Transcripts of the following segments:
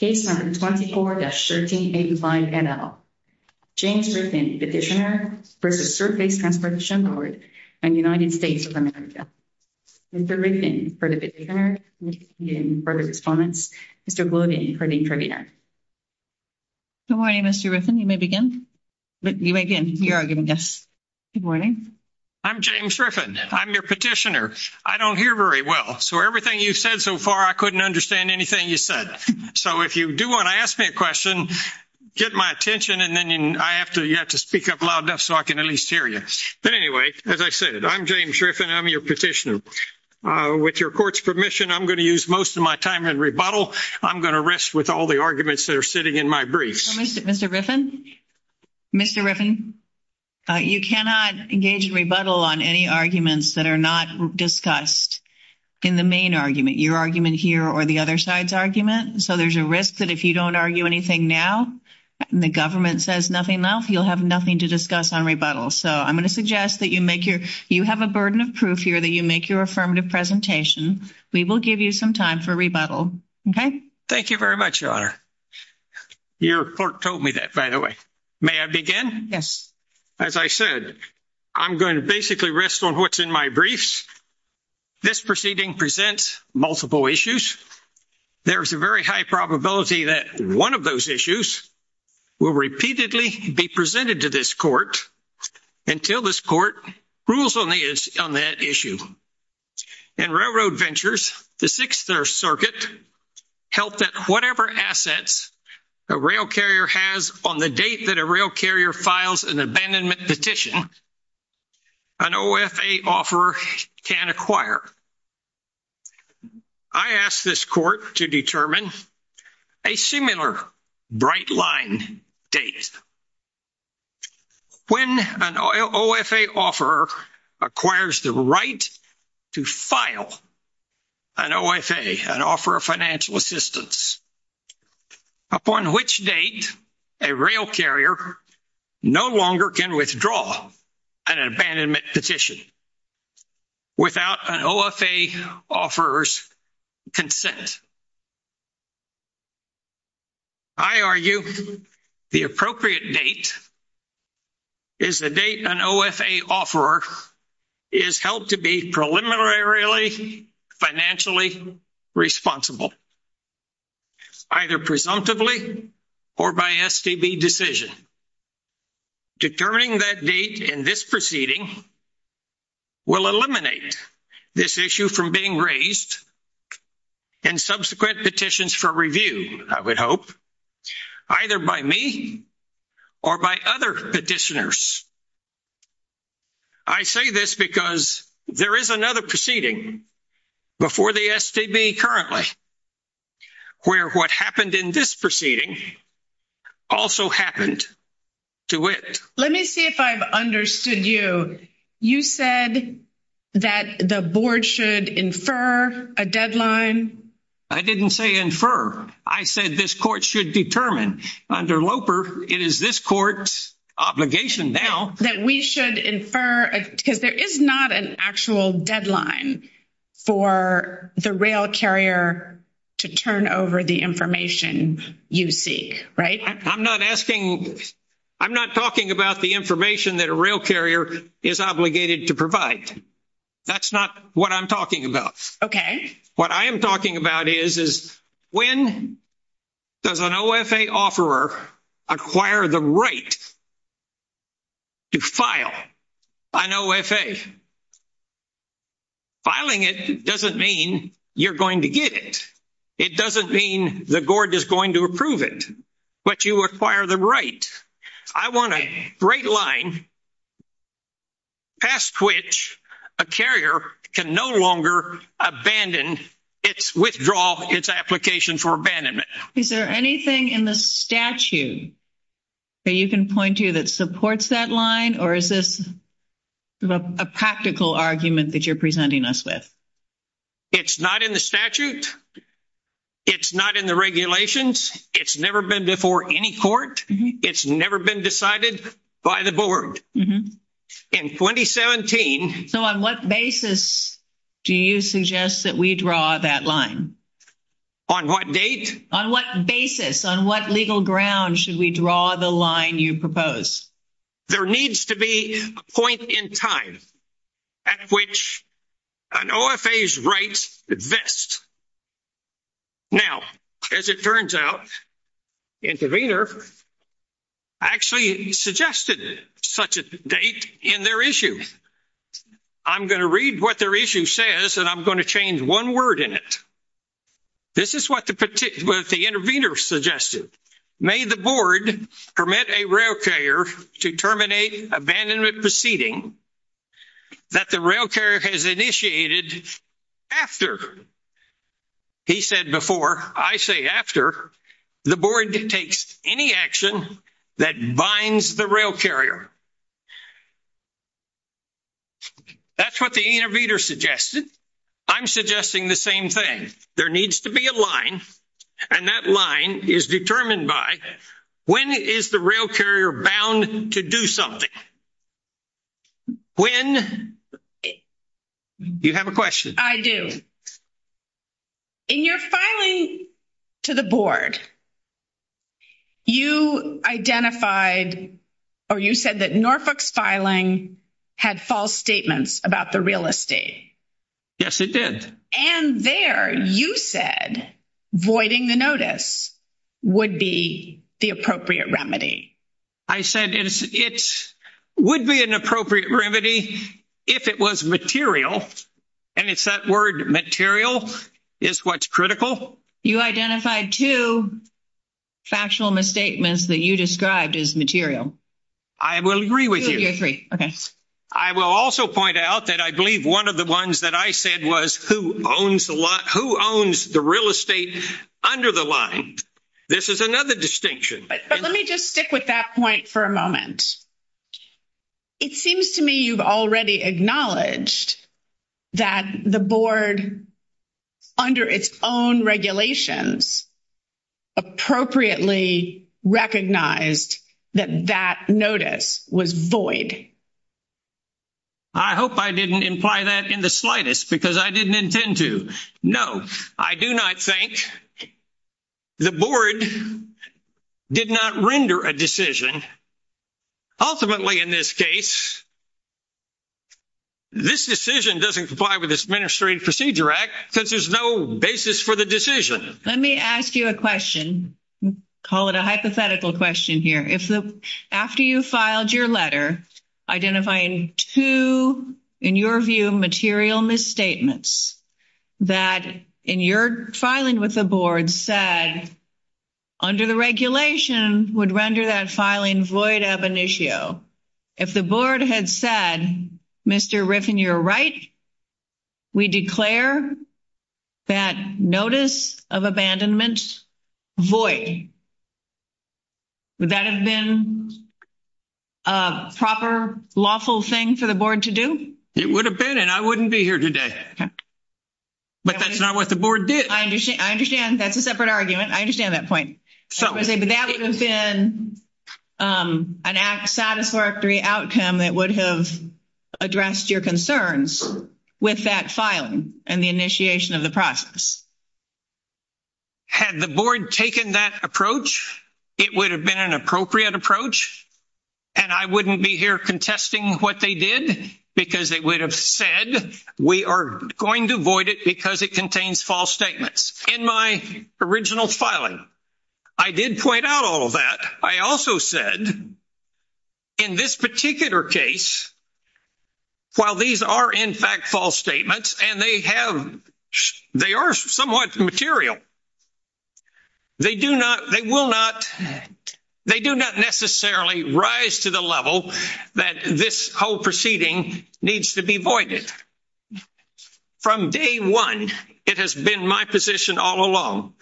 Case number 24-1385 NL. James Riffin, Petitioner versus Surface Transportation Board and United States of America. Mr. Riffin for the Petitioner. Mr. Gloden for the Intervener. Good morning, Mr. Riffin. You may begin. You may begin. You are our guest. Good morning. I'm James Riffin. I'm your petitioner. I don't hear very well, so everything you've said so far, I couldn't understand anything you said. So if you do want to ask me a question, get my attention and then you have to speak up loud enough so I can at least hear you. But anyway, as I said, I'm James Riffin. I'm your petitioner. With your court's permission, I'm going to use most of my time in rebuttal. I'm going to rest with all the arguments that are sitting in my briefs. Mr. Riffin? Mr. Riffin? You cannot engage in rebuttal on any arguments that are not discussed in the main argument, your argument here or the other side's argument. So there's a risk that if you don't argue anything now and the government says nothing now, you'll have nothing to discuss on rebuttal. So I'm going to suggest that you make your, you have a burden of proof here that you make your affirmative presentation. We will give you some time for rebuttal. Okay? Thank you very much, Your Honor. Your court told me that, by the way. May I begin? Yes. As I said, I'm going to basically rest on what's in my briefs. This proceeding presents multiple issues. There's a very high probability that one of those issues will repeatedly be presented to this court until this court rules on that issue. In Railroad Ventures, the Sixth Circuit held that whatever assets a rail carrier has on the date that a rail carrier files an abandonment petition, an OFA offeror can acquire. I ask this court to determine a similar bright line date. When an OFA offeror acquires the right to file an OFA, an offer of financial assistance, upon which date a rail carrier no longer can withdraw an abandonment petition without an OFA offeror's consent. I argue the appropriate date is the date an OFA offeror is held to be preliminarily financially responsible, either presumptively or by STB decision. Determining that date in this proceeding will eliminate this issue from being raised in subsequent petitions for review, I would hope, either by me or by other petitioners. I say this because there is another proceeding before the STB currently where what happened in this proceeding also happened to it. Let me see if I've understood you. You said that the board should infer a deadline. I didn't say infer. I said this court should determine. Under LOPER, it is this court's obligation now. That we should infer, because there is not an actual deadline for the rail carrier to turn over the information you seek, right? I'm not asking, I'm not talking about the information that a rail carrier is obligated to provide. That's what I'm talking about. Okay. What I'm talking about is, when does an OFA offeror acquire the right to file an OFA? Filing it doesn't mean you're going to get it. It doesn't mean the board is going to approve it. But you acquire the right. I want a great line past which a carrier can no longer abandon its withdrawal, its application for abandonment. Is there anything in the statute that you can point to that supports that line? Or is this a practical argument that you're presenting us with? It's not in the statute. It's not in the regulations. It's never been before any court. It's never been decided by the board. In 2017. So on what basis do you suggest that we draw that line? On what date? On what basis, on what legal ground should we draw the line you oppose? There needs to be a point in time at which an OFA's rights vest. Now, as it turns out, the intervener actually suggested such a date in their issue. I'm going to read what their issue says and I'm going to change one word in it. This is what the intervener suggested. May the board permit a rail carrier to terminate abandonment proceeding that the rail carrier has initiated after, he said before, I say after, the board takes any action that binds the rail carrier. That's what the intervener suggested. I'm suggesting the same thing. There needs to be a is determined by when is the rail carrier bound to do something? When? Do you have a question? I do. In your filing to the board, you identified or you said that Norfolk's filing had false statements about the real estate. Yes, it did. And there you said voiding the notice would be the appropriate remedy. I said it would be an appropriate remedy if it was material and it's that word material is what's critical. You identified two factual misstatements that you described as material. I will agree with you. I will also point out that I believe one of the ones that I said was who owns the real estate under the line. This is another distinction. But let me just stick with that point for a moment. It seems to me you've already acknowledged that the board under its own regulations appropriately recognized that that notice was void. I hope I didn't imply that in the slightest because I didn't intend to. No, I do not think that the board did not render a decision. Ultimately, in this case, this decision doesn't comply with this Administrative Procedure Act since there's no basis for the decision. Let me ask you a question. Call it a hypothetical question here. After you filed your letter, identifying two, in your view, material misstatements that in your filing with the board said under the regulation would render that filing void ab initio. If the board had said, Mr. Riffin, you're right. We declare that notice of abandonment void. Would that have been a proper lawful thing for the board to do? It would have been and I wouldn't be here today. But that's not what the board did. I understand. That's a separate argument. I understand that point. So that would have been an act satisfactory outcome that would have addressed your concerns with that filing and the initiation of the process. Had the board taken that approach, it would have been an appropriate approach and I wouldn't be here contesting what they did because they would have said, we are going to void it because it contains false statements. In my original filing, I did point out all of that. I also said, in this particular case, while these are in fact false statements and they are somewhat material, they do not, they will not, they do not necessarily rise to the level that this whole proceeding needs to be voided. From day one, it has been my position all along.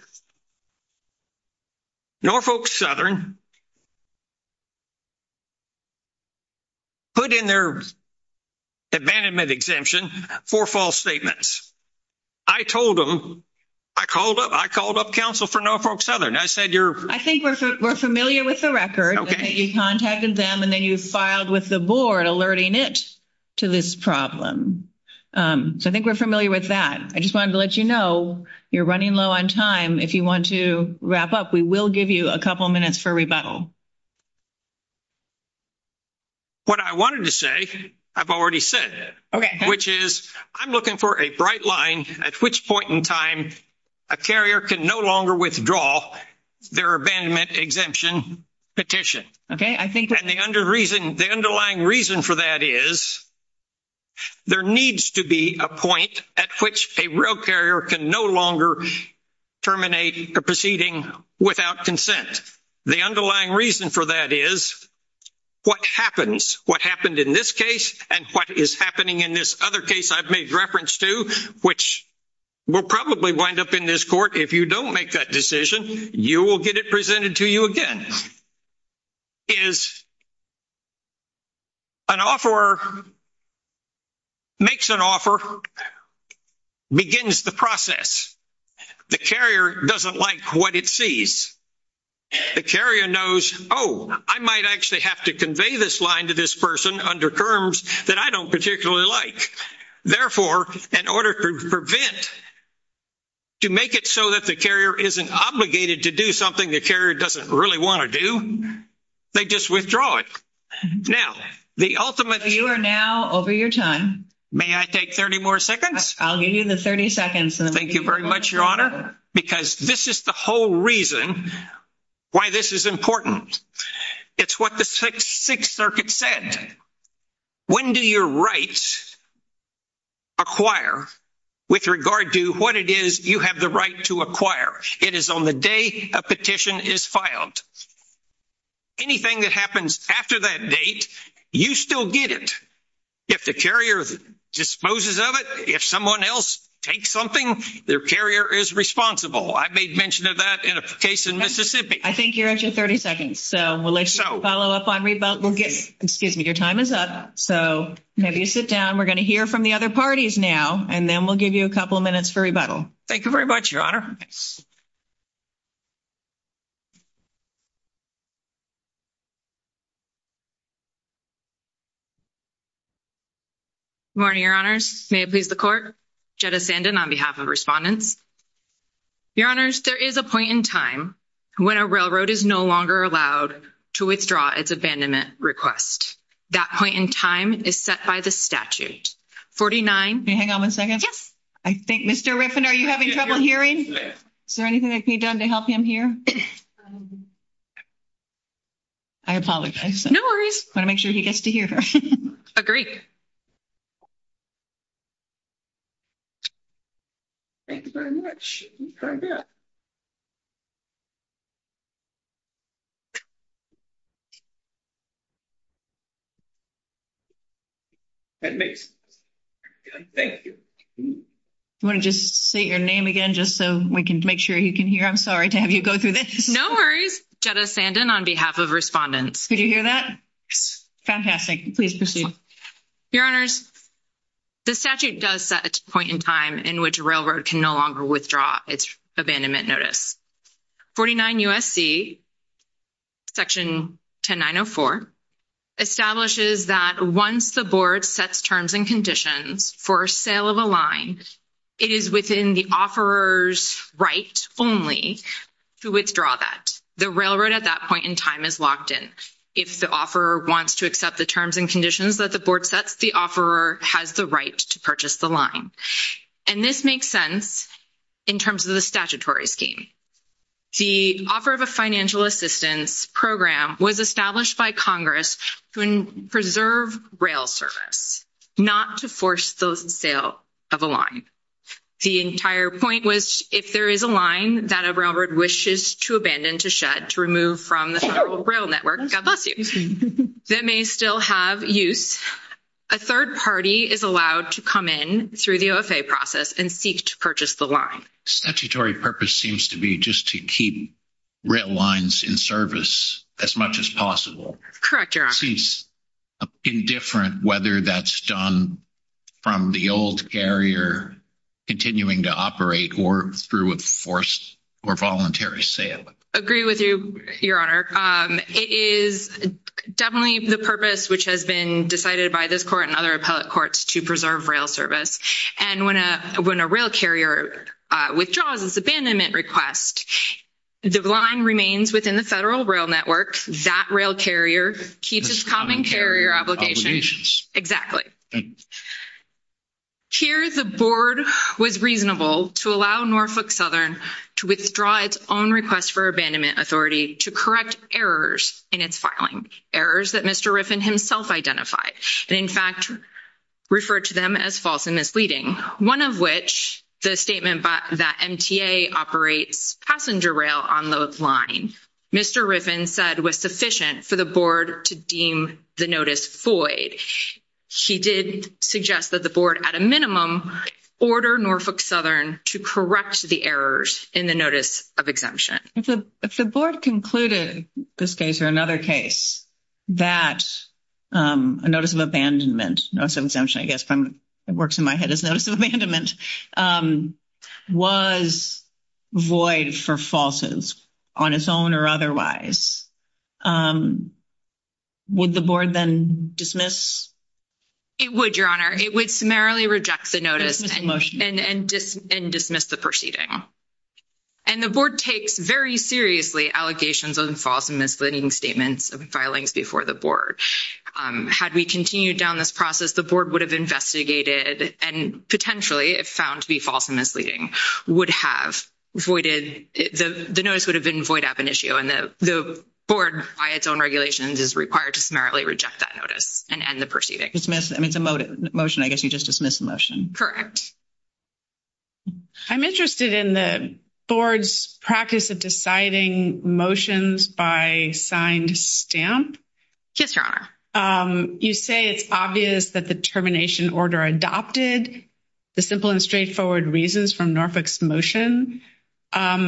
Norfolk Southern put in their abandonment exemption for false statements. I told them, I called up, I called up counsel for Norfolk Southern. I said, I think we're familiar with the record. You contacted them and then you filed with the board alerting it to this problem. So I think we're familiar with that. I just wanted to let you know, you're running low on time. If you want to rebuttal. What I wanted to say, I've already said, which is I'm looking for a bright line at which point in time a carrier can no longer withdraw their abandonment exemption petition. And the underlying reason for that is there needs to be a point at which a real carrier can no longer terminate a proceeding without consent. The underlying reason for that is what happens, what happened in this case and what is happening in this other case I've made reference to, which will probably wind up in this court. If you don't make that decision, you will get it presented to you again. An offeror makes an offer, an offeror begins the process. The carrier doesn't like what it sees. The carrier knows, oh, I might actually have to convey this line to this person under terms that I don't particularly like. Therefore, in order to prevent, to make it so that the carrier isn't obligated to do something the carrier doesn't really want to do, they just withdraw it. Now, the ultimate over your time. May I take 30 more seconds? I'll give you the 30 seconds. Thank you very much, Your Honor. Because this is the whole reason why this is important. It's what the Sixth Circuit said. When do your rights acquire with regard to what it is you have the right to acquire? It is on the day a petition is filed. Anything that happens after that date, you still get it. If the carrier disposes of it, if someone else takes something, their carrier is responsible. I made mention of that in a case in Mississippi. I think you're at your 30 seconds, so we'll let you follow up on rebuttal. Excuse me, your time is up, so maybe you sit down. We're going to hear from the other parties now, and then we'll give you a couple of minutes for rebuttal. Thank you very much, Your Honor. Good morning, Your Honors. May it please the Court? Jetta Sandin on behalf of Respondents. Your Honors, there is a point in time when a railroad is no longer allowed to withdraw its abandonment request. That point in time is set by the statute. 49. Can you hang on one second? Yes. I think Mr. Riffin, are you having trouble hearing? Is there anything that can be done to help him hear? I apologize. No worries. I want to make sure he gets to hear her. Agreed. Thank you very much. Thank you. Do you want to just say your name again just so we can make sure he can hear? I'm sorry to have you go through this. No worries. Jetta Sandin on behalf of Respondents. Could you hear that? Fantastic. Please proceed. Your Honors, the statute does set a point in time in which a railroad can no longer withdraw its abandonment notice. 49 U.S.C. Section 10904 establishes that once the board sets terms and conditions for sale of a line, it is within the offeror's right only to withdraw that. The railroad at that point in time is locked in. If the offeror wants to accept the terms and conditions that the board sets, the offeror has the right to purchase the And this makes sense in terms of the statutory scheme. The offer of a financial assistance program was established by Congress to preserve rail service, not to force the sale of a line. The entire point was if there is a line that a railroad wishes to abandon, to shed, to remove from the federal rail network, God bless you, that may still have use, a third party is allowed to come in through the OFA process and seek to purchase the line. Statutory purpose seems to be just to keep rail lines in service as much as possible. Correct, Your Honor. Seems indifferent whether that's done from the old carrier continuing to operate or through a forced or voluntary sale. Agree with you, Your Honor. It is definitely the purpose which has been decided by this court and courts to preserve rail service. And when a rail carrier withdraws its abandonment request, the line remains within the federal rail network. That rail carrier keeps its common carrier obligations. Exactly. Here the board was reasonable to allow Norfolk Southern to withdraw its own request for abandonment authority to correct errors in its filing, errors that Mr. Riffin identified and in fact referred to them as false and misleading. One of which, the statement that MTA operates passenger rail on the line, Mr. Riffin said was sufficient for the board to deem the notice void. He did suggest that the board at a minimum order Norfolk Southern to correct the errors in the notice of exemption. If the board concluded this case or another case that a notice of abandonment, notice of exemption I guess works in my head as notice of abandonment, was void for falsehoods on its own or otherwise, would the board then dismiss? It would, Your Honor. It would summarily reject the notice and dismiss the proceeding. And the board takes very seriously allegations of false and misleading statements of filings before the board. Had we continued down this process, the board would have investigated and potentially if found to be false and misleading, would have voided, the notice would have been void ab initio and the board by its own regulations is required to summarily reject that notice and end the proceeding. Dismiss, I mean it's a motion, I guess you just dismiss the motion. Correct. I'm interested in the board's practice of deciding motions by signed stamp. Yes, Your Honor. You say it's obvious that the termination order adopted the simple and straightforward reasons from Norfolk's motion, but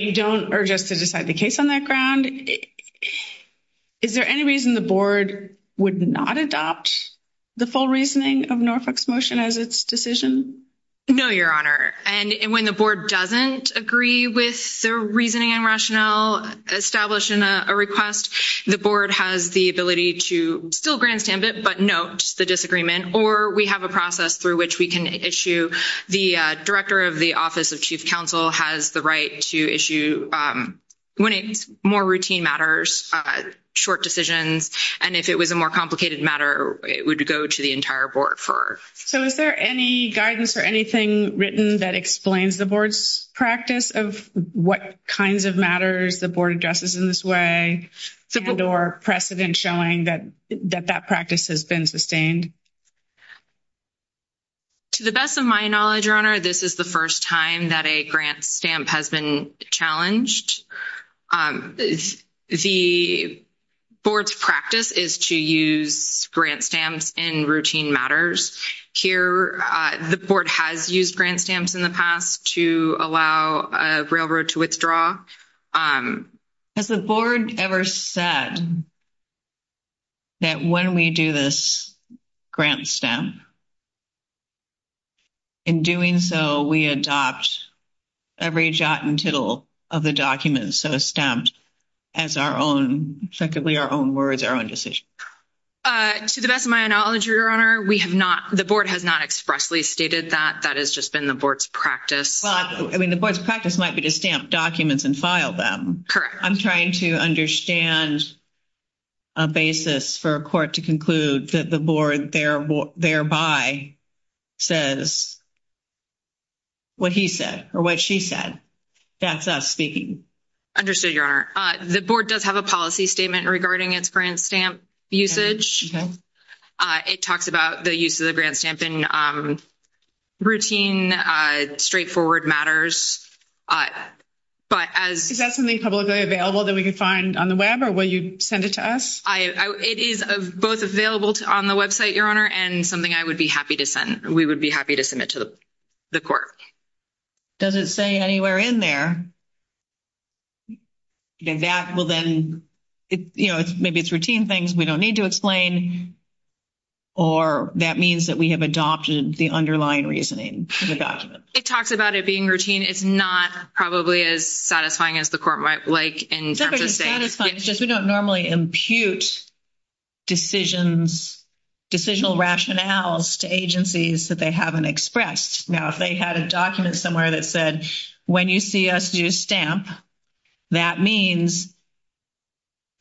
you don't urge us to decide the case on that ground. Is there any reason the board would not adopt the full reasoning of Norfolk's motion as its decision? No, Your Honor. And when the board doesn't agree with the reasoning and rationale established in a request, the board has the ability to still grant stamp it, but note the disagreement, or we have a process through which we can issue the director of the office of chief counsel has the right to issue, when it's more routine matters, short decisions, and if it was a more complicated matter, it would go to the entire board for. So is there any guidance or anything written that explains the board's practice of what kinds of matters the board addresses in this way, or precedent showing that that practice has been sustained? To the best of my knowledge, Your Honor, this is the first time that a grant stamp has been challenged. The board's practice is to use grant stamps in routine matters. Here, the board has used grant stamps in the past to allow a railroad to withdraw. Has the board ever said that when we do this grant stamp, in doing so, we adopt every jot and tittle of the document so stamped as effectively our own words, our own decision? To the best of my knowledge, Your Honor, the board has not expressly stated that. That has just been the board's practice. Well, I mean, the board's practice might be to stamp documents and file them. Correct. I'm trying to understand a basis for a court to conclude that the board thereby says what he said or what she said. That's us speaking. Understood, Your Honor. The board does have a policy statement regarding its grant stamp usage. It talks about the use of the grant stamp in routine, straightforward matters. Is that something publicly available that we could find on the web or will you send it to us? It is both available on the website, Your Honor, and something I would be happy to send. We would be happy to submit to the court. Does it say anywhere in there? And that will then, you know, maybe it's routine things we don't need to explain or that means that we have adopted the underlying reasoning of the document. It talks about it being routine. It's not probably as satisfying as the court might like in terms of saying. It's not as satisfying. It's just we don't normally impute decisions, decisional rationales to agencies that they haven't expressed. Now, if they had a document somewhere that said, when you see us use stamp, that means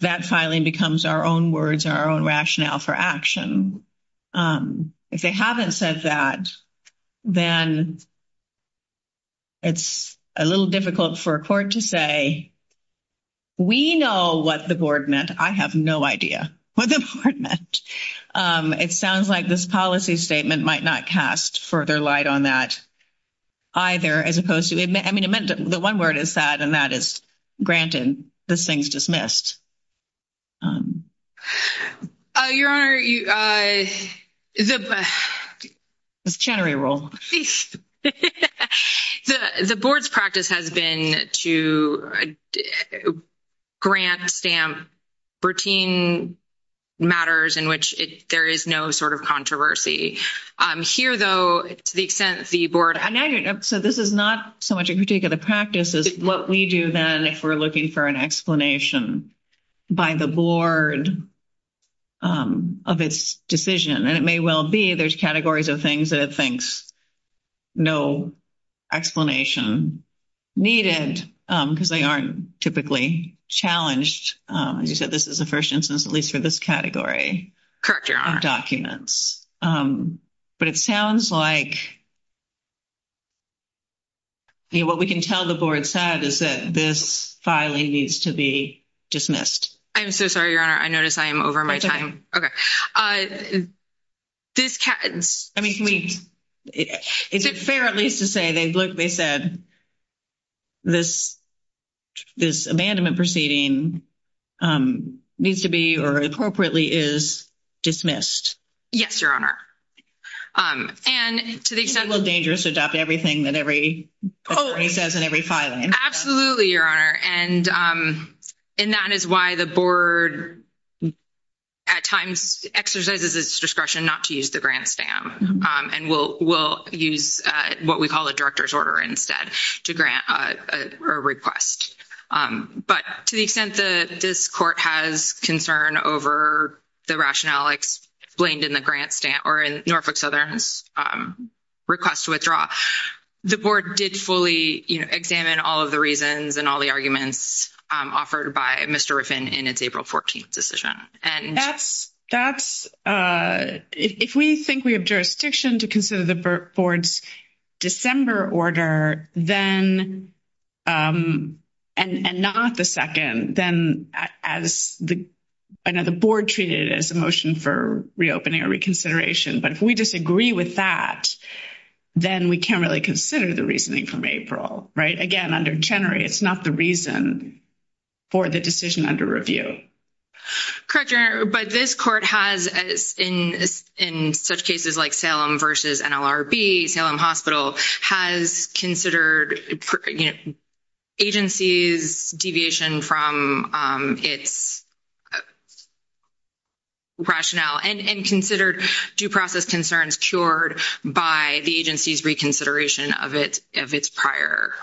that filing becomes our own words, our own rationale for action. If they haven't said that, then it's a little difficult for a court to say, we know what the board meant. I have no idea what the board meant. It sounds like this policy statement might not cast further light on that either as opposed to, I mean, the one word is that and that is granted. This thing's dismissed. Your Honor, the board's practice has been to grant stamp routine matters in which there is no sort of controversy. Here, though, to the extent the board. So, this is not so much a particular practice as what we do then if we're looking for an explanation by the board of its decision. And it may well be there's categories of things that thinks no explanation needed because they aren't typically challenged. As you said, this is the first instance, at least for this category. Correct, Your Honor. Of documents. But it sounds like what we can tell the board said is that this filing needs to be dismissed. I'm so sorry, Your Honor. I notice I am over my time. Okay. Is it fair at least to say they said this abandonment proceeding needs to be or appropriately is dismissed? Yes, Your Honor. And to the extent. It's a little dangerous to adopt everything that every filing. Absolutely, Your Honor. And that is why the board at times exercises its discretion not to use the grant stamp and will use what we call a director's order instead to grant a request. But to the extent that this court has concern over the rationale explained in the grant stamp or in the grant application, the board did fully examine all of the reasons and all the arguments offered by Mr. Riffin in its April 14th decision. That's if we think we have jurisdiction to consider the board's December order, then and not the second, then as the board treated it as a motion for reopening or reconsideration. But if we disagree with that, then we can't really consider the reasoning from April, right? Again, under Chenery, it's not the reason for the decision under review. Correct, Your Honor. But this court has in such cases like Salem versus NLRB, Salem Hospital, has considered agency's deviation from its rationale and considered due process concerns cured by the agency's reconsideration of its prior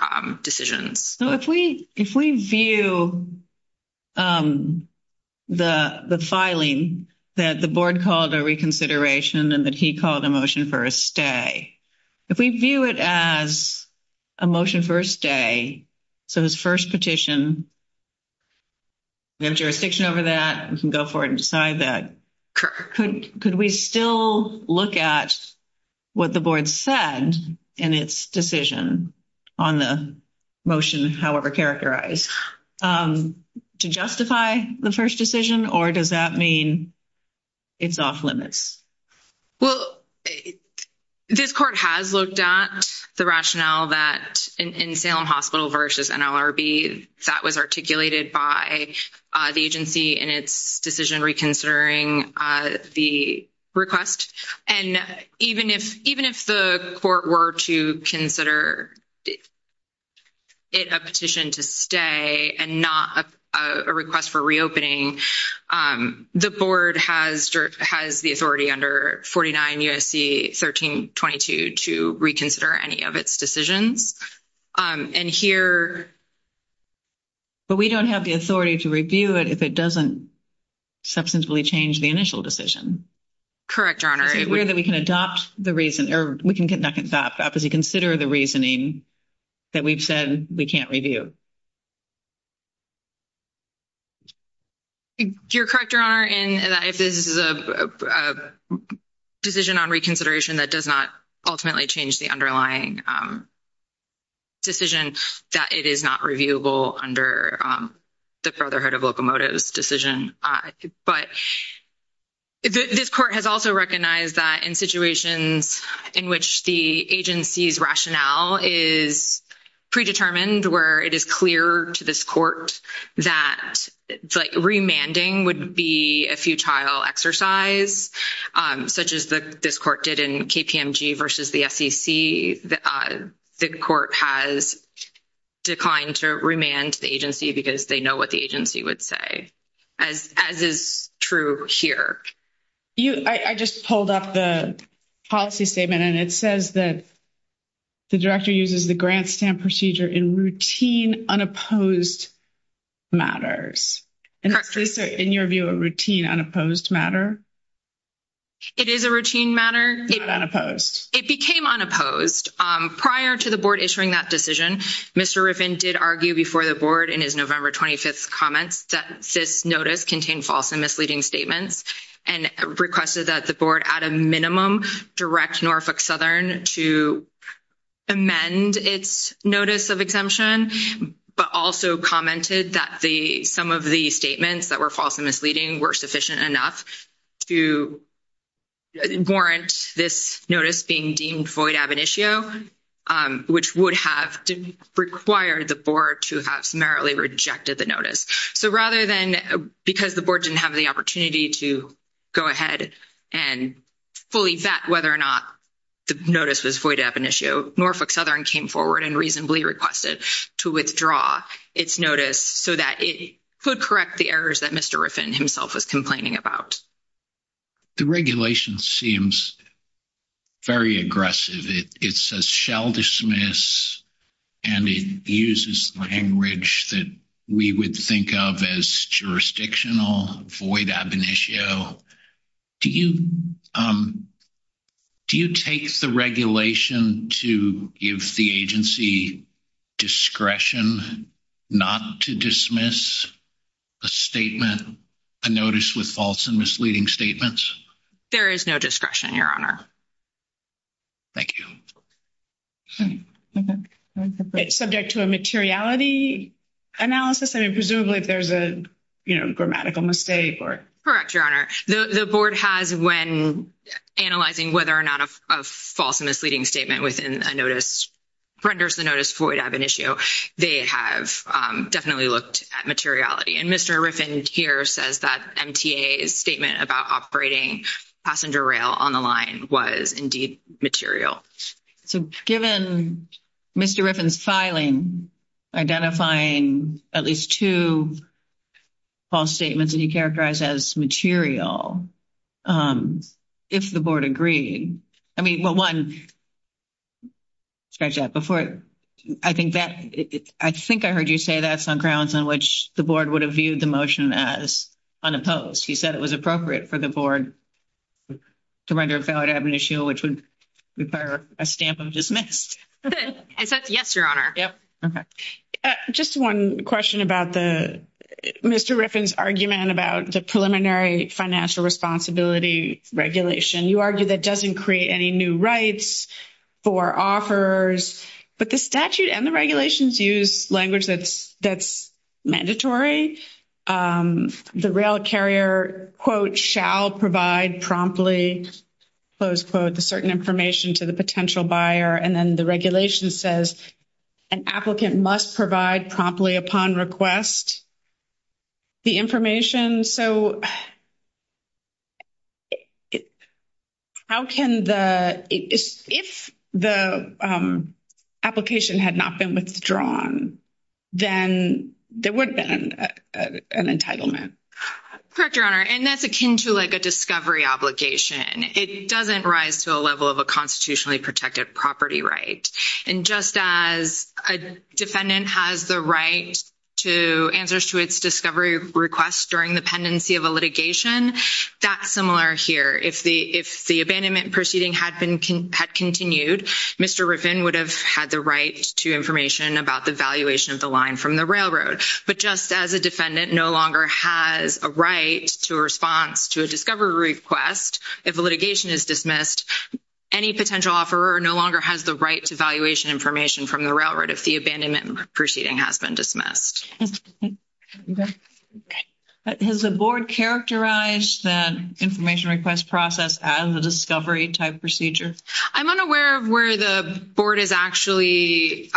decisions. So if we view the filing that the board called a reconsideration and that he called a motion for a stay, if we view it as a motion for a stay, so his first petition, we have jurisdiction over that, we can go for it and decide that. Could we still look at what the board said in its decision on the motion, however characterized, to justify the first decision? Or does that mean it's off limits? Well, this court has looked at the rationale that in Salem Hospital versus NLRB that was articulated by the agency in its decision reconsidering the request. And even if the court were to consider it a petition to stay and not a request for reopening, the board has the authority under 49 U.S.C. 1322 to reconsider any of its decisions. And here... But we don't have the authority to review it if it doesn't substantively change the initial decision. Correct, Your Honor. Is it weird that we can adopt the reason or we can get knocked up as we consider the reasoning that we've said we can't review? You're correct, Your Honor, in that if this is a decision on reconsideration that does not ultimately change the underlying decision, that it is not reviewable under the Brotherhood of Locomotives decision. But this court has also recognized that in situations in which the agency's rationale is predetermined, where it is clear to this court that remanding would be a futile exercise, such as this court did in KPMG versus the SEC, the court has declined to remand the agency because they know what the agency would say, as is true here. I just pulled up the policy statement, and it says that the director uses the grant stamp procedure in routine unopposed matters. And is this, in your view, a routine unopposed matter? It is a routine matter. It became unopposed. Prior to the board issuing that decision, Mr. Riffin did argue before the board in his November 25th comments that this notice contained false and misleading statements. And requested that the board, at a minimum, direct Norfolk Southern to amend its notice of exemption, but also commented that some of the statements that were false and misleading were sufficient enough to warrant this notice being deemed void ab initio, which would have required the board to have summarily rejected the notice. So rather than, because the board didn't have the opportunity to go ahead and fully vet whether or not the notice was void ab initio, Norfolk Southern came forward and reasonably requested to withdraw its notice so that it could correct the errors that Mr. Riffin himself was complaining about. The regulation seems very aggressive. It says shall dismiss, and it uses language that we would think of as jurisdictional, void ab initio. Do you take the regulation to give the agency discretion not to dismiss a statement, a notice with false and misleading statements? There is no discretion, your honor. Thank you. Okay. Subject to a materiality analysis? I mean, presumably if there's a grammatical mistake. Correct, your honor. The board has, when analyzing whether or not a false and misleading statement within a notice renders the notice void ab initio, they have definitely looked at materiality. And Mr. Riffin here says that MTA's statement about operating passenger rail on the line was indeed material. So given Mr. Riffin's filing, identifying at least two false statements that he characterized as material, if the board agreed, I mean, well, one, scratch that, before, I think that, I think I heard you say that's on grounds on which the board would have viewed the motion as unopposed. He said it was appropriate for the board to render a valid ab initio, which would require a stamp of dismissed. I said yes, your honor. Yep. Okay. Just one question about the, Mr. Riffin's argument about the preliminary financial responsibility regulation. You argue that doesn't create any new rights for offers, but the statute and the regulations use language that's mandatory. The rail carrier, quote, shall provide promptly, close quote, the certain information to the potential buyer. And then the regulation says an applicant must provide promptly upon request the information. So how can the, if the application had not been withdrawn, then there would have been an entitlement. Correct, your honor. And that's akin to like a discovery obligation. It doesn't rise to a level of a constitutionally protected property right. And just as a defendant has the right to answers to its discovery request during the pendency of a litigation, that's similar here. If the abandonment proceeding had continued, Mr. Riffin would have had the right to information about the valuation of the line from the railroad. But just as a defendant no longer has a right to a response to a discovery request, if a litigation is dismissed, any potential offeror no longer has the right to valuation information from the railroad if the abandonment proceeding has been dismissed. Has the board characterized that information request process as a discovery type procedure? I'm unaware of where the board has actually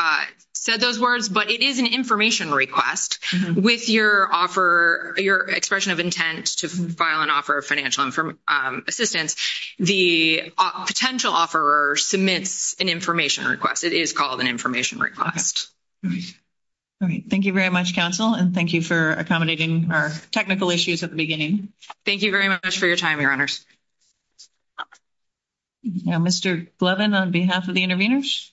said those words, but it is an information request. With your offer, your expression of intent to file an offer of financial assistance, the potential offeror submits an information request. It is called an information request. All right. Thank you very much, counsel. And thank you for accommodating our technical issues at the beginning. Thank you very much for your time, your honors. Now, Mr. Glovin, on behalf of the intervenors.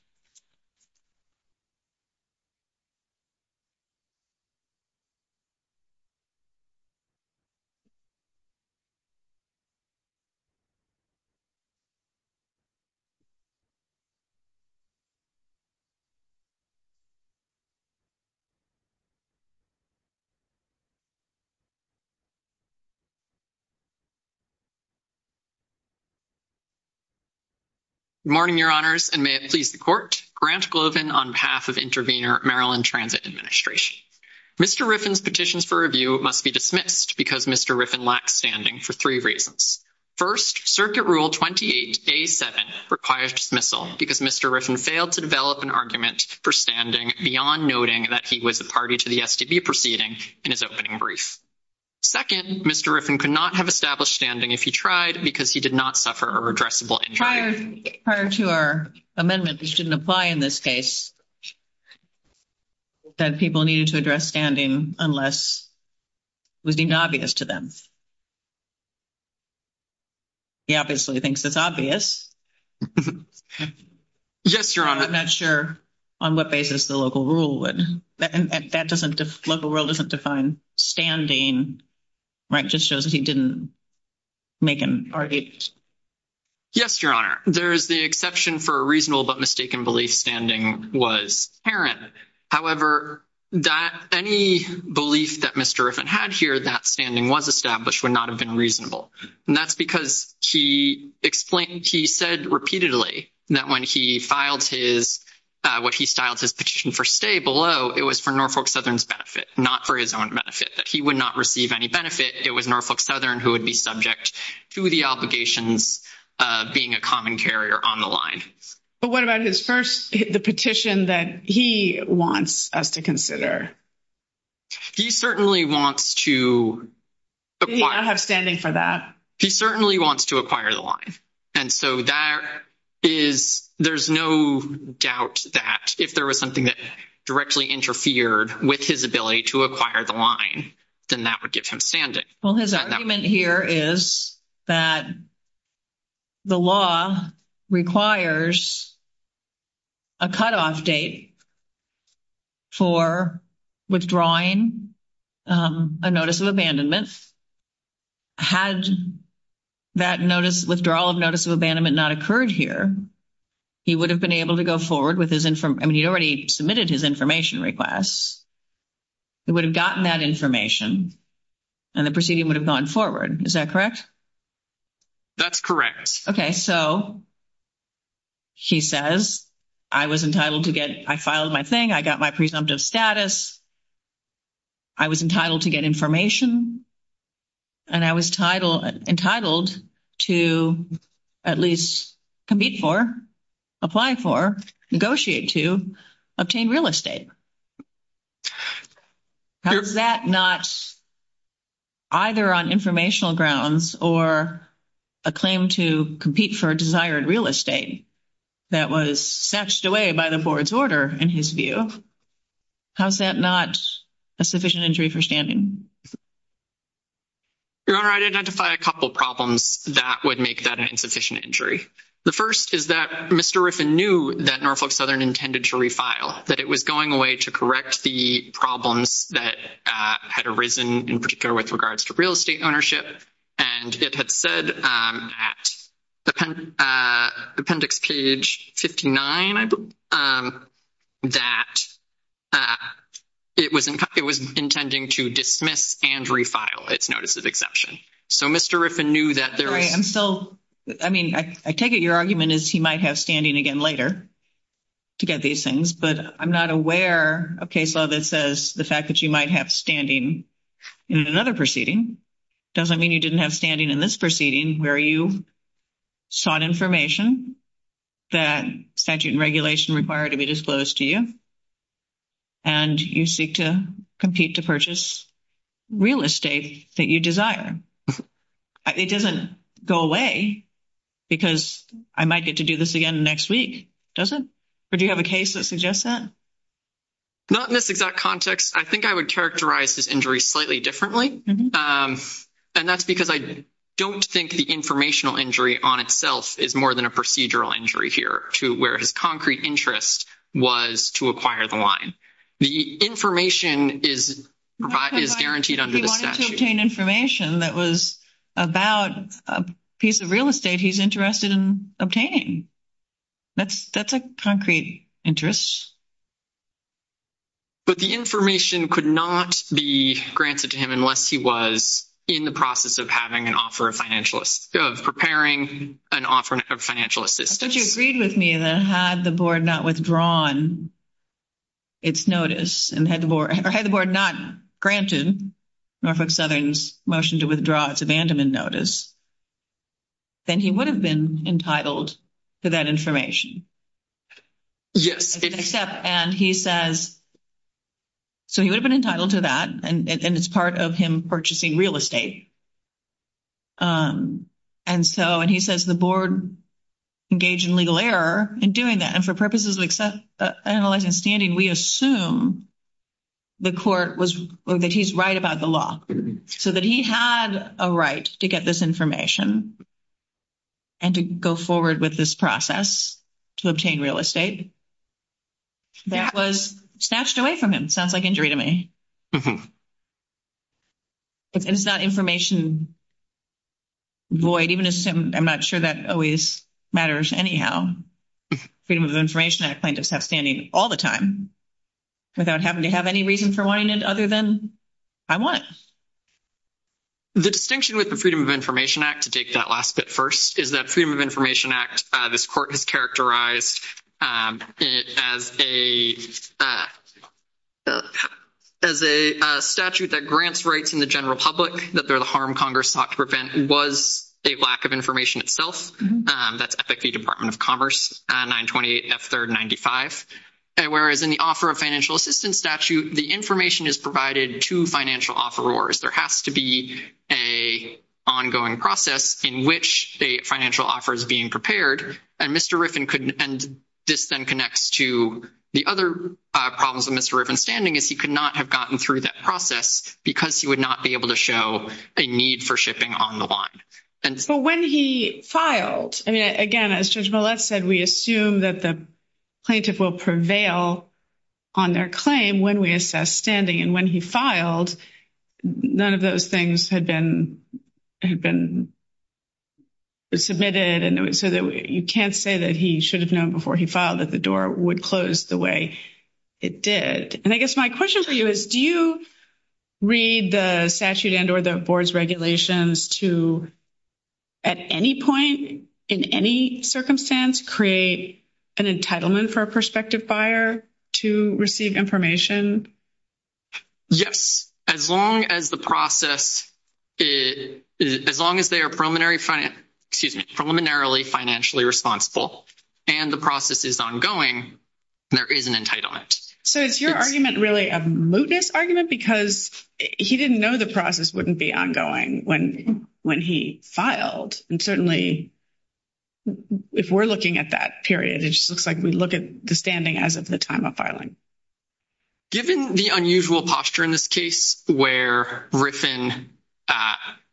Good morning, your honors, and may it please the court. Grant Glovin on behalf of intervenor, Maryland Transit Administration. Mr. Riffin's petitions for review must be dismissed because Mr. Riffin lacked standing for three reasons. First, Circuit Rule 28A-7 requires dismissal because Mr. Riffin failed to develop an argument for standing beyond noting that he was a party to the STB proceeding in his opening brief. Second, Mr. Riffin could not have established standing if he tried because he did not suffer a redressable injury. Prior to our amendment, which didn't apply in this case, that people needed to address standing unless it was deemed obvious to them. He obviously thinks it's obvious. Yes, your honor. I'm not sure on what basis the local rule would. And that doesn't, local rule doesn't define standing, right? Just shows that he didn't make an argument. Yes, your honor. There is the exception for a reasonable but mistaken belief standing was inherent. However, that, any belief that Mr. Riffin had here that standing was established would not have been reasonable. And that's because he explained, he said repeatedly that when he filed his, what he styled his petition for stay below, it was for Norfolk Southern's benefit, not for his own benefit, that he would not receive any benefit. It was Norfolk Southern who would be subject to the obligations of being a common carrier on the line. But what about his first, the petition that he wants us to consider? He certainly wants to acquire. He not have standing for that. He certainly wants to acquire the line. And so that is, there's no doubt that if there was directly interfered with his ability to acquire the line, then that would give him standing. Well, his argument here is that the law requires a cutoff date for withdrawing a notice of abandonment. Had that notice, withdrawal of notice of abandonment not occurred here, he would have been able to go forward with his, I mean, he'd already submitted his information requests. He would have gotten that information and the proceeding would have gone forward. Is that correct? That's correct. Okay. So he says, I was entitled to get, I filed my thing. I got my presumptive status. I was entitled to get information and I was entitled to at least compete for, apply for, negotiate to, obtain real estate. How's that not either on informational grounds or a claim to compete for desired real estate that was satched away by the board's order in his view? How's that not a sufficient injury for standing? Your Honor, I'd identify a couple problems that would make that an insufficient injury. The first is that Mr. Riffin knew that Norfolk Southern intended to refile, that it was going away to correct the problems that had arisen in particular with regards to real estate ownership. And it had said at appendix page 59, I believe, that it was, it was intending to dismiss and refile its notice of exception. So Mr. Riffin knew that there was. Sorry, I'm still, I mean, I take it your argument is he might have standing again later to get these things, but I'm not aware of case law that says the fact that you might have standing in another proceeding doesn't mean you didn't have standing in this proceeding where you sought information that statute and regulation required to be disclosed to you, and you seek to compete to purchase real estate that you desire. It doesn't go away because I might get to do this again next week, does it? Or do you have a case that suggests that? Not in this exact context. I think I would characterize his injury slightly differently. And that's because I don't think the informational injury on itself is more than a procedural injury here to where his concrete interest was to acquire the line. The information is guaranteed under the statute. He wanted to obtain information that was about a piece of real estate he's interested in obtaining. That's a concrete interest. But the information could not be granted to him unless he was in the process of having an offer of financial, of preparing an offer of financial assistance. But you agreed with me that had the board not withdrawn its notice, or had the board not granted Norfolk Southern's motion to withdraw its abandonment notice, then he would have been entitled to that information. Yes. And he says, so he would have been entitled to that, and it's part of him purchasing real estate. And so, and he says the board engaged in legal error in doing that. And for purposes of analyzing standing, we assume the court was, that he's right about the so that he had a right to get this information and to go forward with this process to obtain real estate that was snatched away from him. Sounds like injury to me. It's not information void, even assume, I'm not sure that always matters anyhow. Freedom of information, I claim to have standing all the time without having to have any reason for wanting it other than I want it. The distinction with the Freedom of Information Act, to take that last bit first, is that Freedom of Information Act, this court has characterized it as a, as a statute that grants rights in the general public that they're the harm Congress sought to prevent was a lack of information itself. That's ethically Department of Commerce, 928 F3rd 95. And whereas in the offer of financial assistance statute, the information is provided to financial offerors. There has to be a ongoing process in which a financial offer is being prepared. And Mr. Riffin could, and this then connects to the other problems with Mr. Riffin's standing is he could not have gotten through that process because he would not be able to show a need for shipping on the line. But when he filed, I mean, again, as Judge Millett said, we assume that the plaintiff will prevail on their claim when we assess standing. And when he filed, none of those things had been, had been submitted. And so that you can't say that he should have known before he filed that the door would close the way it did. And I guess my question for you is, do you read the statute and or the board's regulations to, at any point in any circumstance, create an entitlement for a prospective buyer to receive information? Yes. As long as the process, as long as they are preliminary, excuse me, preliminarily financially responsible and the process is ongoing, there is an entitlement. So is your argument really a mootness argument? Because he didn't know the process wouldn't be ongoing when he filed. And certainly, if we're looking at that period, it just looks like we look at the standing as of the time of filing. Given the unusual posture in this case, where Mr.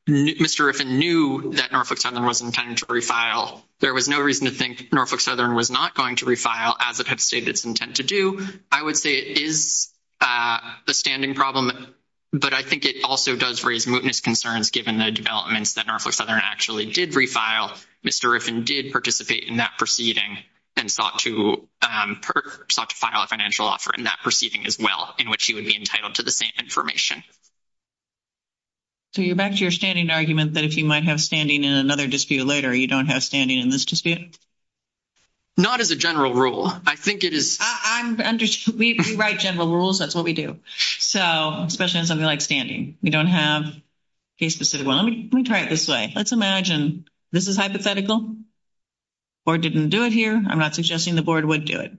Riffin knew that Norfolk Southern was intended to refile, there was no reason to think Norfolk Southern was not going to refile as it stated its intent to do. I would say it is a standing problem, but I think it also does raise mootness concerns given the developments that Norfolk Southern actually did refile. Mr. Riffin did participate in that proceeding and sought to file a financial offer in that proceeding as well, in which he would be entitled to the same information. So you're back to your standing argument that if you might have standing in another dispute later, you don't have standing in this dispute? Not as a general rule. I think it is. We write general rules. That's what we do. So especially in something like standing, we don't have a specific one. Let me try it this way. Let's imagine this is hypothetical. The board didn't do it here. I'm not suggesting the board would do it.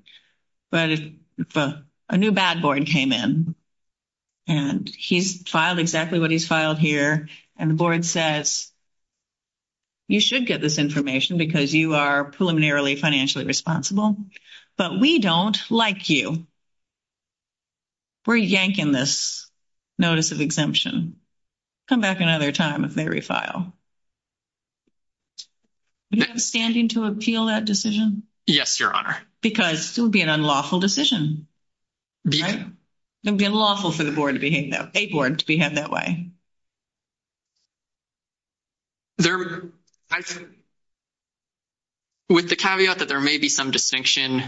But if a new bad board came in, and he's filed exactly what he's filed here, and the board says, you should get this information because you are preliminarily financially responsible, but we don't like you, we're yanking this notice of exemption. Come back another time if they refile. Would you have standing to appeal that decision? Yes, your honor. Because it would be an unlawful decision, right? It would be unlawful for the board. With the caveat that there may be some distinction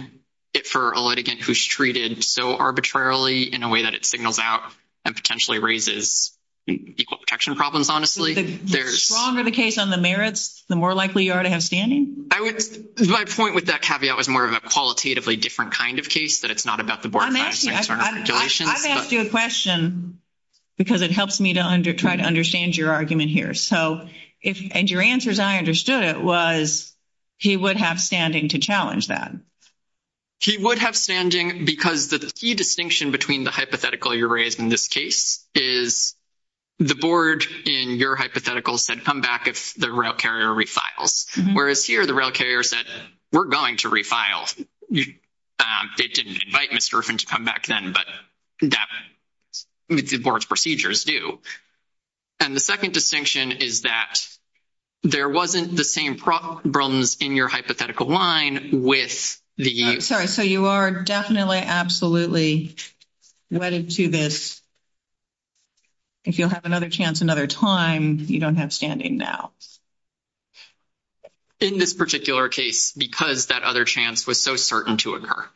for a litigant who's treated so arbitrarily in a way that it signals out and potentially raises equal protection problems, honestly. The stronger the case on the merits, the more likely you are to have standing? My point with that caveat was more of a qualitatively different kind of case, that it's not about the board. I've asked you a question because it helps me to try to understand your argument here. And your answer, as I understood it, was he would have standing to challenge that. He would have standing because the key distinction between the hypothetical you raised in this case is the board in your hypothetical said, come back if the rail carrier refiles. Whereas here, the rail carrier said, we're going to refile. It didn't invite Mr. Griffin to come back then, but the board's procedures do. And the second distinction is that there wasn't the same problems in your hypothetical line with the you. Sorry. So you are definitely absolutely wedded to this. If you'll have another chance another time, you don't have standing now. In this particular case, because that other chance was so certain to occur.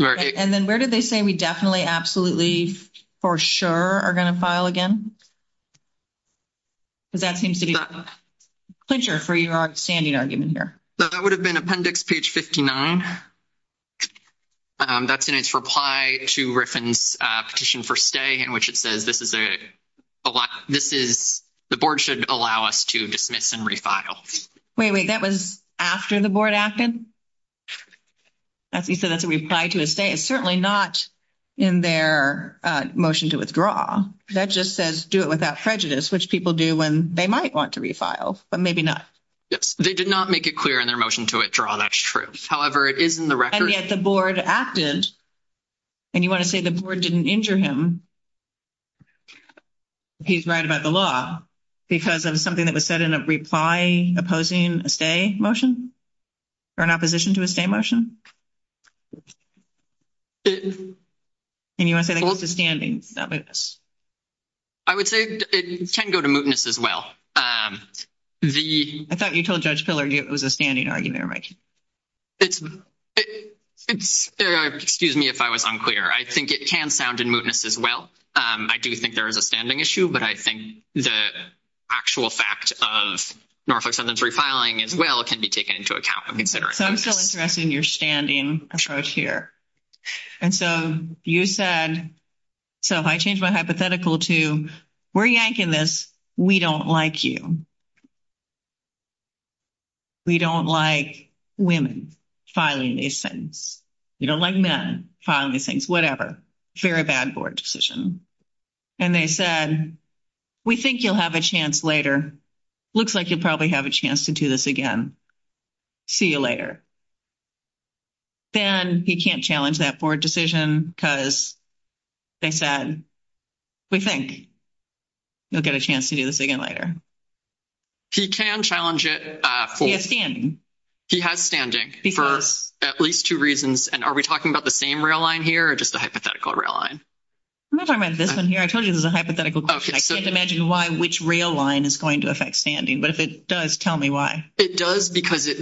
And then where did they say we definitely absolutely for sure are going to file again? Because that seems to be a clincher for your standing argument here. That would have been appendix page 59. That's in its reply to Griffin's petition for stay, in which it says the board should allow us to dismiss and refile. Wait, wait. That was after the board acted? You said that's a reply to a stay. It's certainly not in their motion to withdraw. That just says do it without prejudice, which people do when they might want to refile, but maybe not. Yes. They did not make it clear in their motion to withdraw. That's true. However, it is in the record. Yet the board acted and you want to say the board didn't injure him. He's right about the law because of something that was said in a reply opposing a stay motion or an opposition to a stay motion. And you want to say that goes to standing? I would say it can go to mootness as well. I thought you told Judge Pillar it was a standing argument. Excuse me if I was unclear. I think it can sound in mootness as well. I do think there is a standing issue, but I think the actual fact of Norfolk sentence refiling as well can be taken into account when considering this. So I'm still interested in your standing approach here. And so you said, so if I change my hypothetical to we're yanking this, we don't like you. We don't like women filing these things. You don't like men filing these things, whatever. Very bad board decision. And they said, we think you'll have a chance later. Looks like you'll probably have a chance to do this again. See you later. Then he can't challenge that board decision because they said, we think you'll get a chance to do this again later. He can challenge it. He has standing. He has standing for at least two reasons. And are we talking about the same rail line here or just the hypothetical rail line? I'm not talking about this one here. I told you this is a hypothetical question. I can't imagine why which rail line is going to affect standing. But if it does, tell me why. It does because it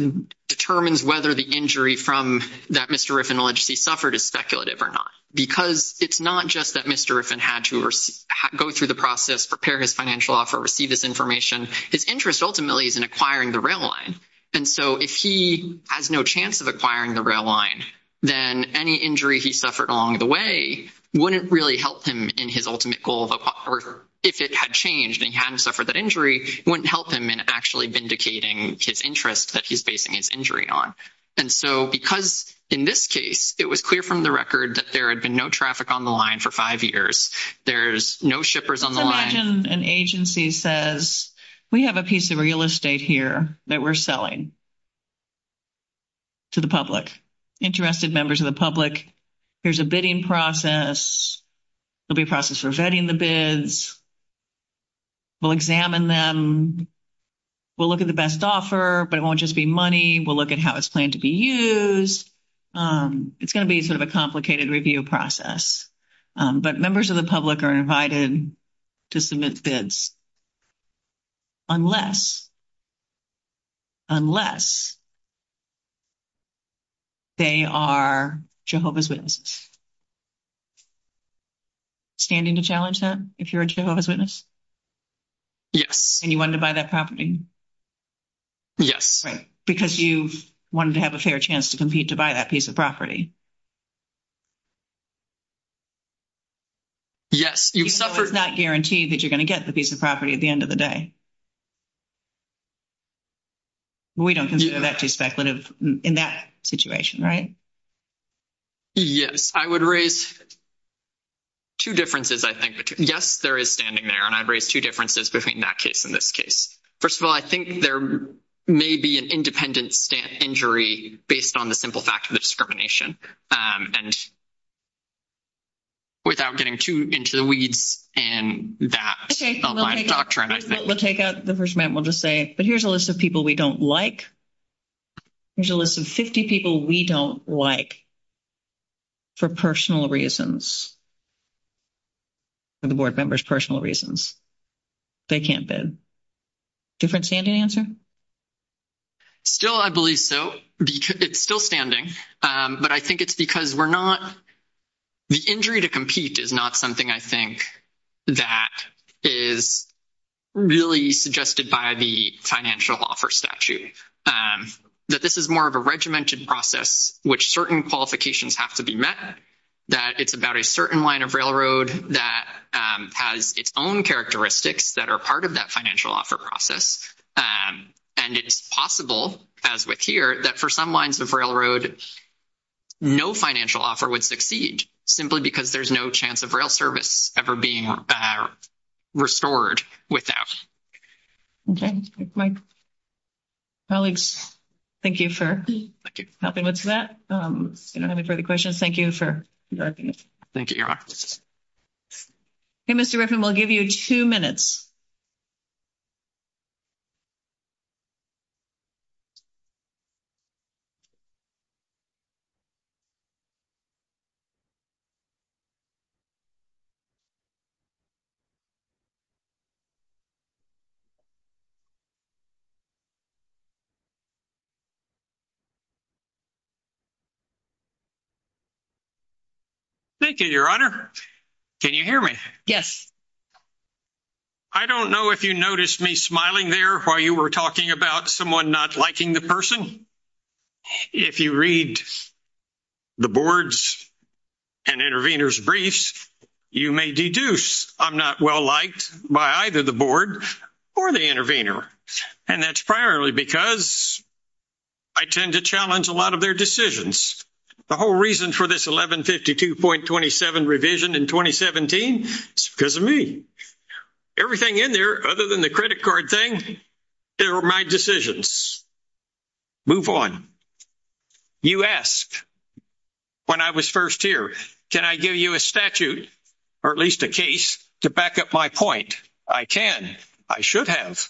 determines whether the injury from that Mr. Riffin allegedly suffered is speculative or not. Because it's not just that Mr. Riffin had to go through the process, prepare his financial offer, receive this information. His interest ultimately is in acquiring the rail line. And so if he has no chance of acquiring the rail line, then any injury he suffered along the way wouldn't really help him in his ultimate goal. If it had changed and he hadn't suffered that injury, it wouldn't help him in actually vindicating his interest that he's basing his injury on. And so because in this case, it was clear from the record that there had been no traffic on the line for five years. There's no shippers on the line. Let's imagine an agency says, we have a piece of real estate here that we're selling to the public, interested members of the public. Here's a bidding process. There'll be a process for vetting the bids. We'll examine them. We'll look at the best offer, but it won't just be money. We'll look at how it's planned to be used. It's going to be sort of a complicated review process, but members of the public are invited to submit bids unless they are Jehovah's Witnesses. Standing to challenge that if you're a Jehovah's Witness? Yes. And you wanted to buy that property? Yes. Because you wanted to have a fair chance to compete to buy that piece of property? Yes. Even though it's not guaranteed that you're going to get the piece of property at the end of the day? We don't consider that too speculative in that situation, right? Yes. I would raise two differences, I think. Yes, there is standing there, and I'd raise two differences between that case and this case. First of all, I think there may be an independent injury based on the simple fact of the discrimination and without getting too into the weeds in that doctrine, I think. We'll take out the first amendment. We'll just say, but here's a list of people we don't like. Here's a list of 50 people we don't like for personal reasons, the board members' personal reasons. They can't bid. Different standing answer? Still, I believe so. It's still standing. But I think it's because we're not, the injury to compete is not something, I think, that is really suggested by the financial offer statute, that this is more of a regimented process, which certain qualifications have to be met, that it's about a certain line of railroad that has its own characteristics that are part of that financial offer process. And it's possible, as with here, that for some lines of railroad, no financial offer would succeed simply because there's no chance of rail service ever being restored without. Okay. My colleagues, thank you for helping with that. If you don't have any further questions, thank you for directing it. Thank you, Your Honor. Okay, Mr. Griffin, we'll give you two minutes. Thank you, Your Honor. Can you hear me? Yes. I don't know if you noticed me smiling there while you were talking about someone not liking the person. If you read the board's and intervener's briefs, you may deduce I'm not well-liked by either the board or the intervener. And that's primarily because I tend to challenge a lot of their decisions. The whole reason for this 1152.27 revision in 2017 is because of me. Everything in there other than the credit card thing, they were my decisions. Move on. You asked when I was first here, can I give you a statute or at least a case to back up my point? I can. I should have.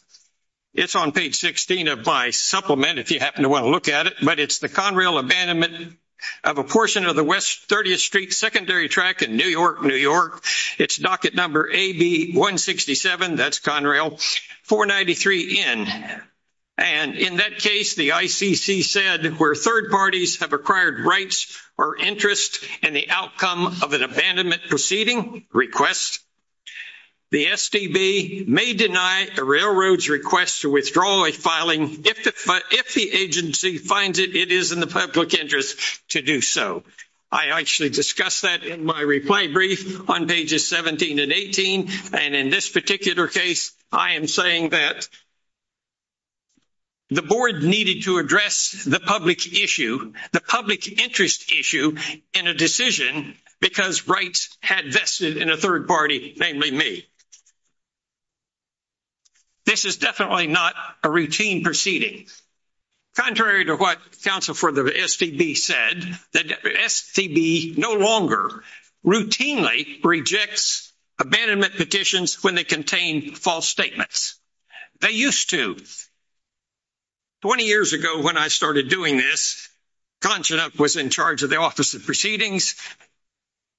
It's on page 16 of my supplement if you happen to want to look at it, but it's the Conrail abandonment of a portion of the West 30th Street secondary track in New York, it's docket number AB167, that's Conrail, 493N. And in that case, the ICC said where third parties have acquired rights or interest in the outcome of an abandonment proceeding request, the SDB may deny a railroad's request to withdraw a filing if the agency finds it is in the public interest to do so. I actually discussed that in my reply brief on pages 17 and 18. And in this particular case, I am saying that the board needed to address the public issue, the public interest issue in a decision because rights had vested in a third party, namely me. This is definitely not a routine proceeding. Contrary to what counsel for the SDB said, the SDB no longer routinely rejects abandonment petitions when they contain false statements. They used to. 20 years ago when I started doing this, Conchita was in charge of the proceeding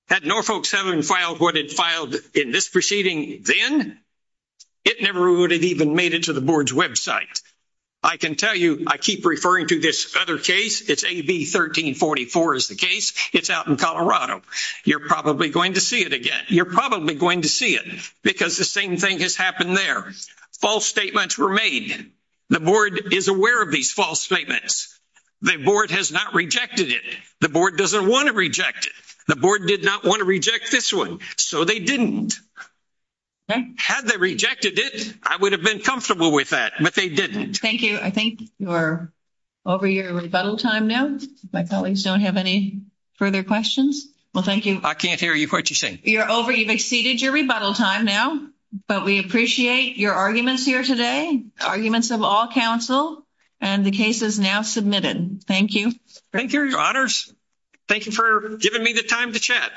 then. It never would have even made it to the board's website. I can tell you I keep referring to this other case. It's AB1344 is the case. It's out in Colorado. You're probably going to see it again. You're probably going to see it because the same thing has happened there. False statements were made. The board is aware of these false statements. The board has not rejected it. The board doesn't want to reject it. The board did not want to reject this one. So they didn't. Had they rejected it, I would have been comfortable with that, but they didn't. Thank you. I think you're over your rebuttal time now. My colleagues don't have any further questions. Well, thank you. I can't hear you quite. You're saying you're over. You've exceeded your rebuttal time now, but we appreciate your arguments here today, arguments of all counsel, and the case is now submitted. Thank you. Thank you, your honors. Thank you for giving me the time to chat.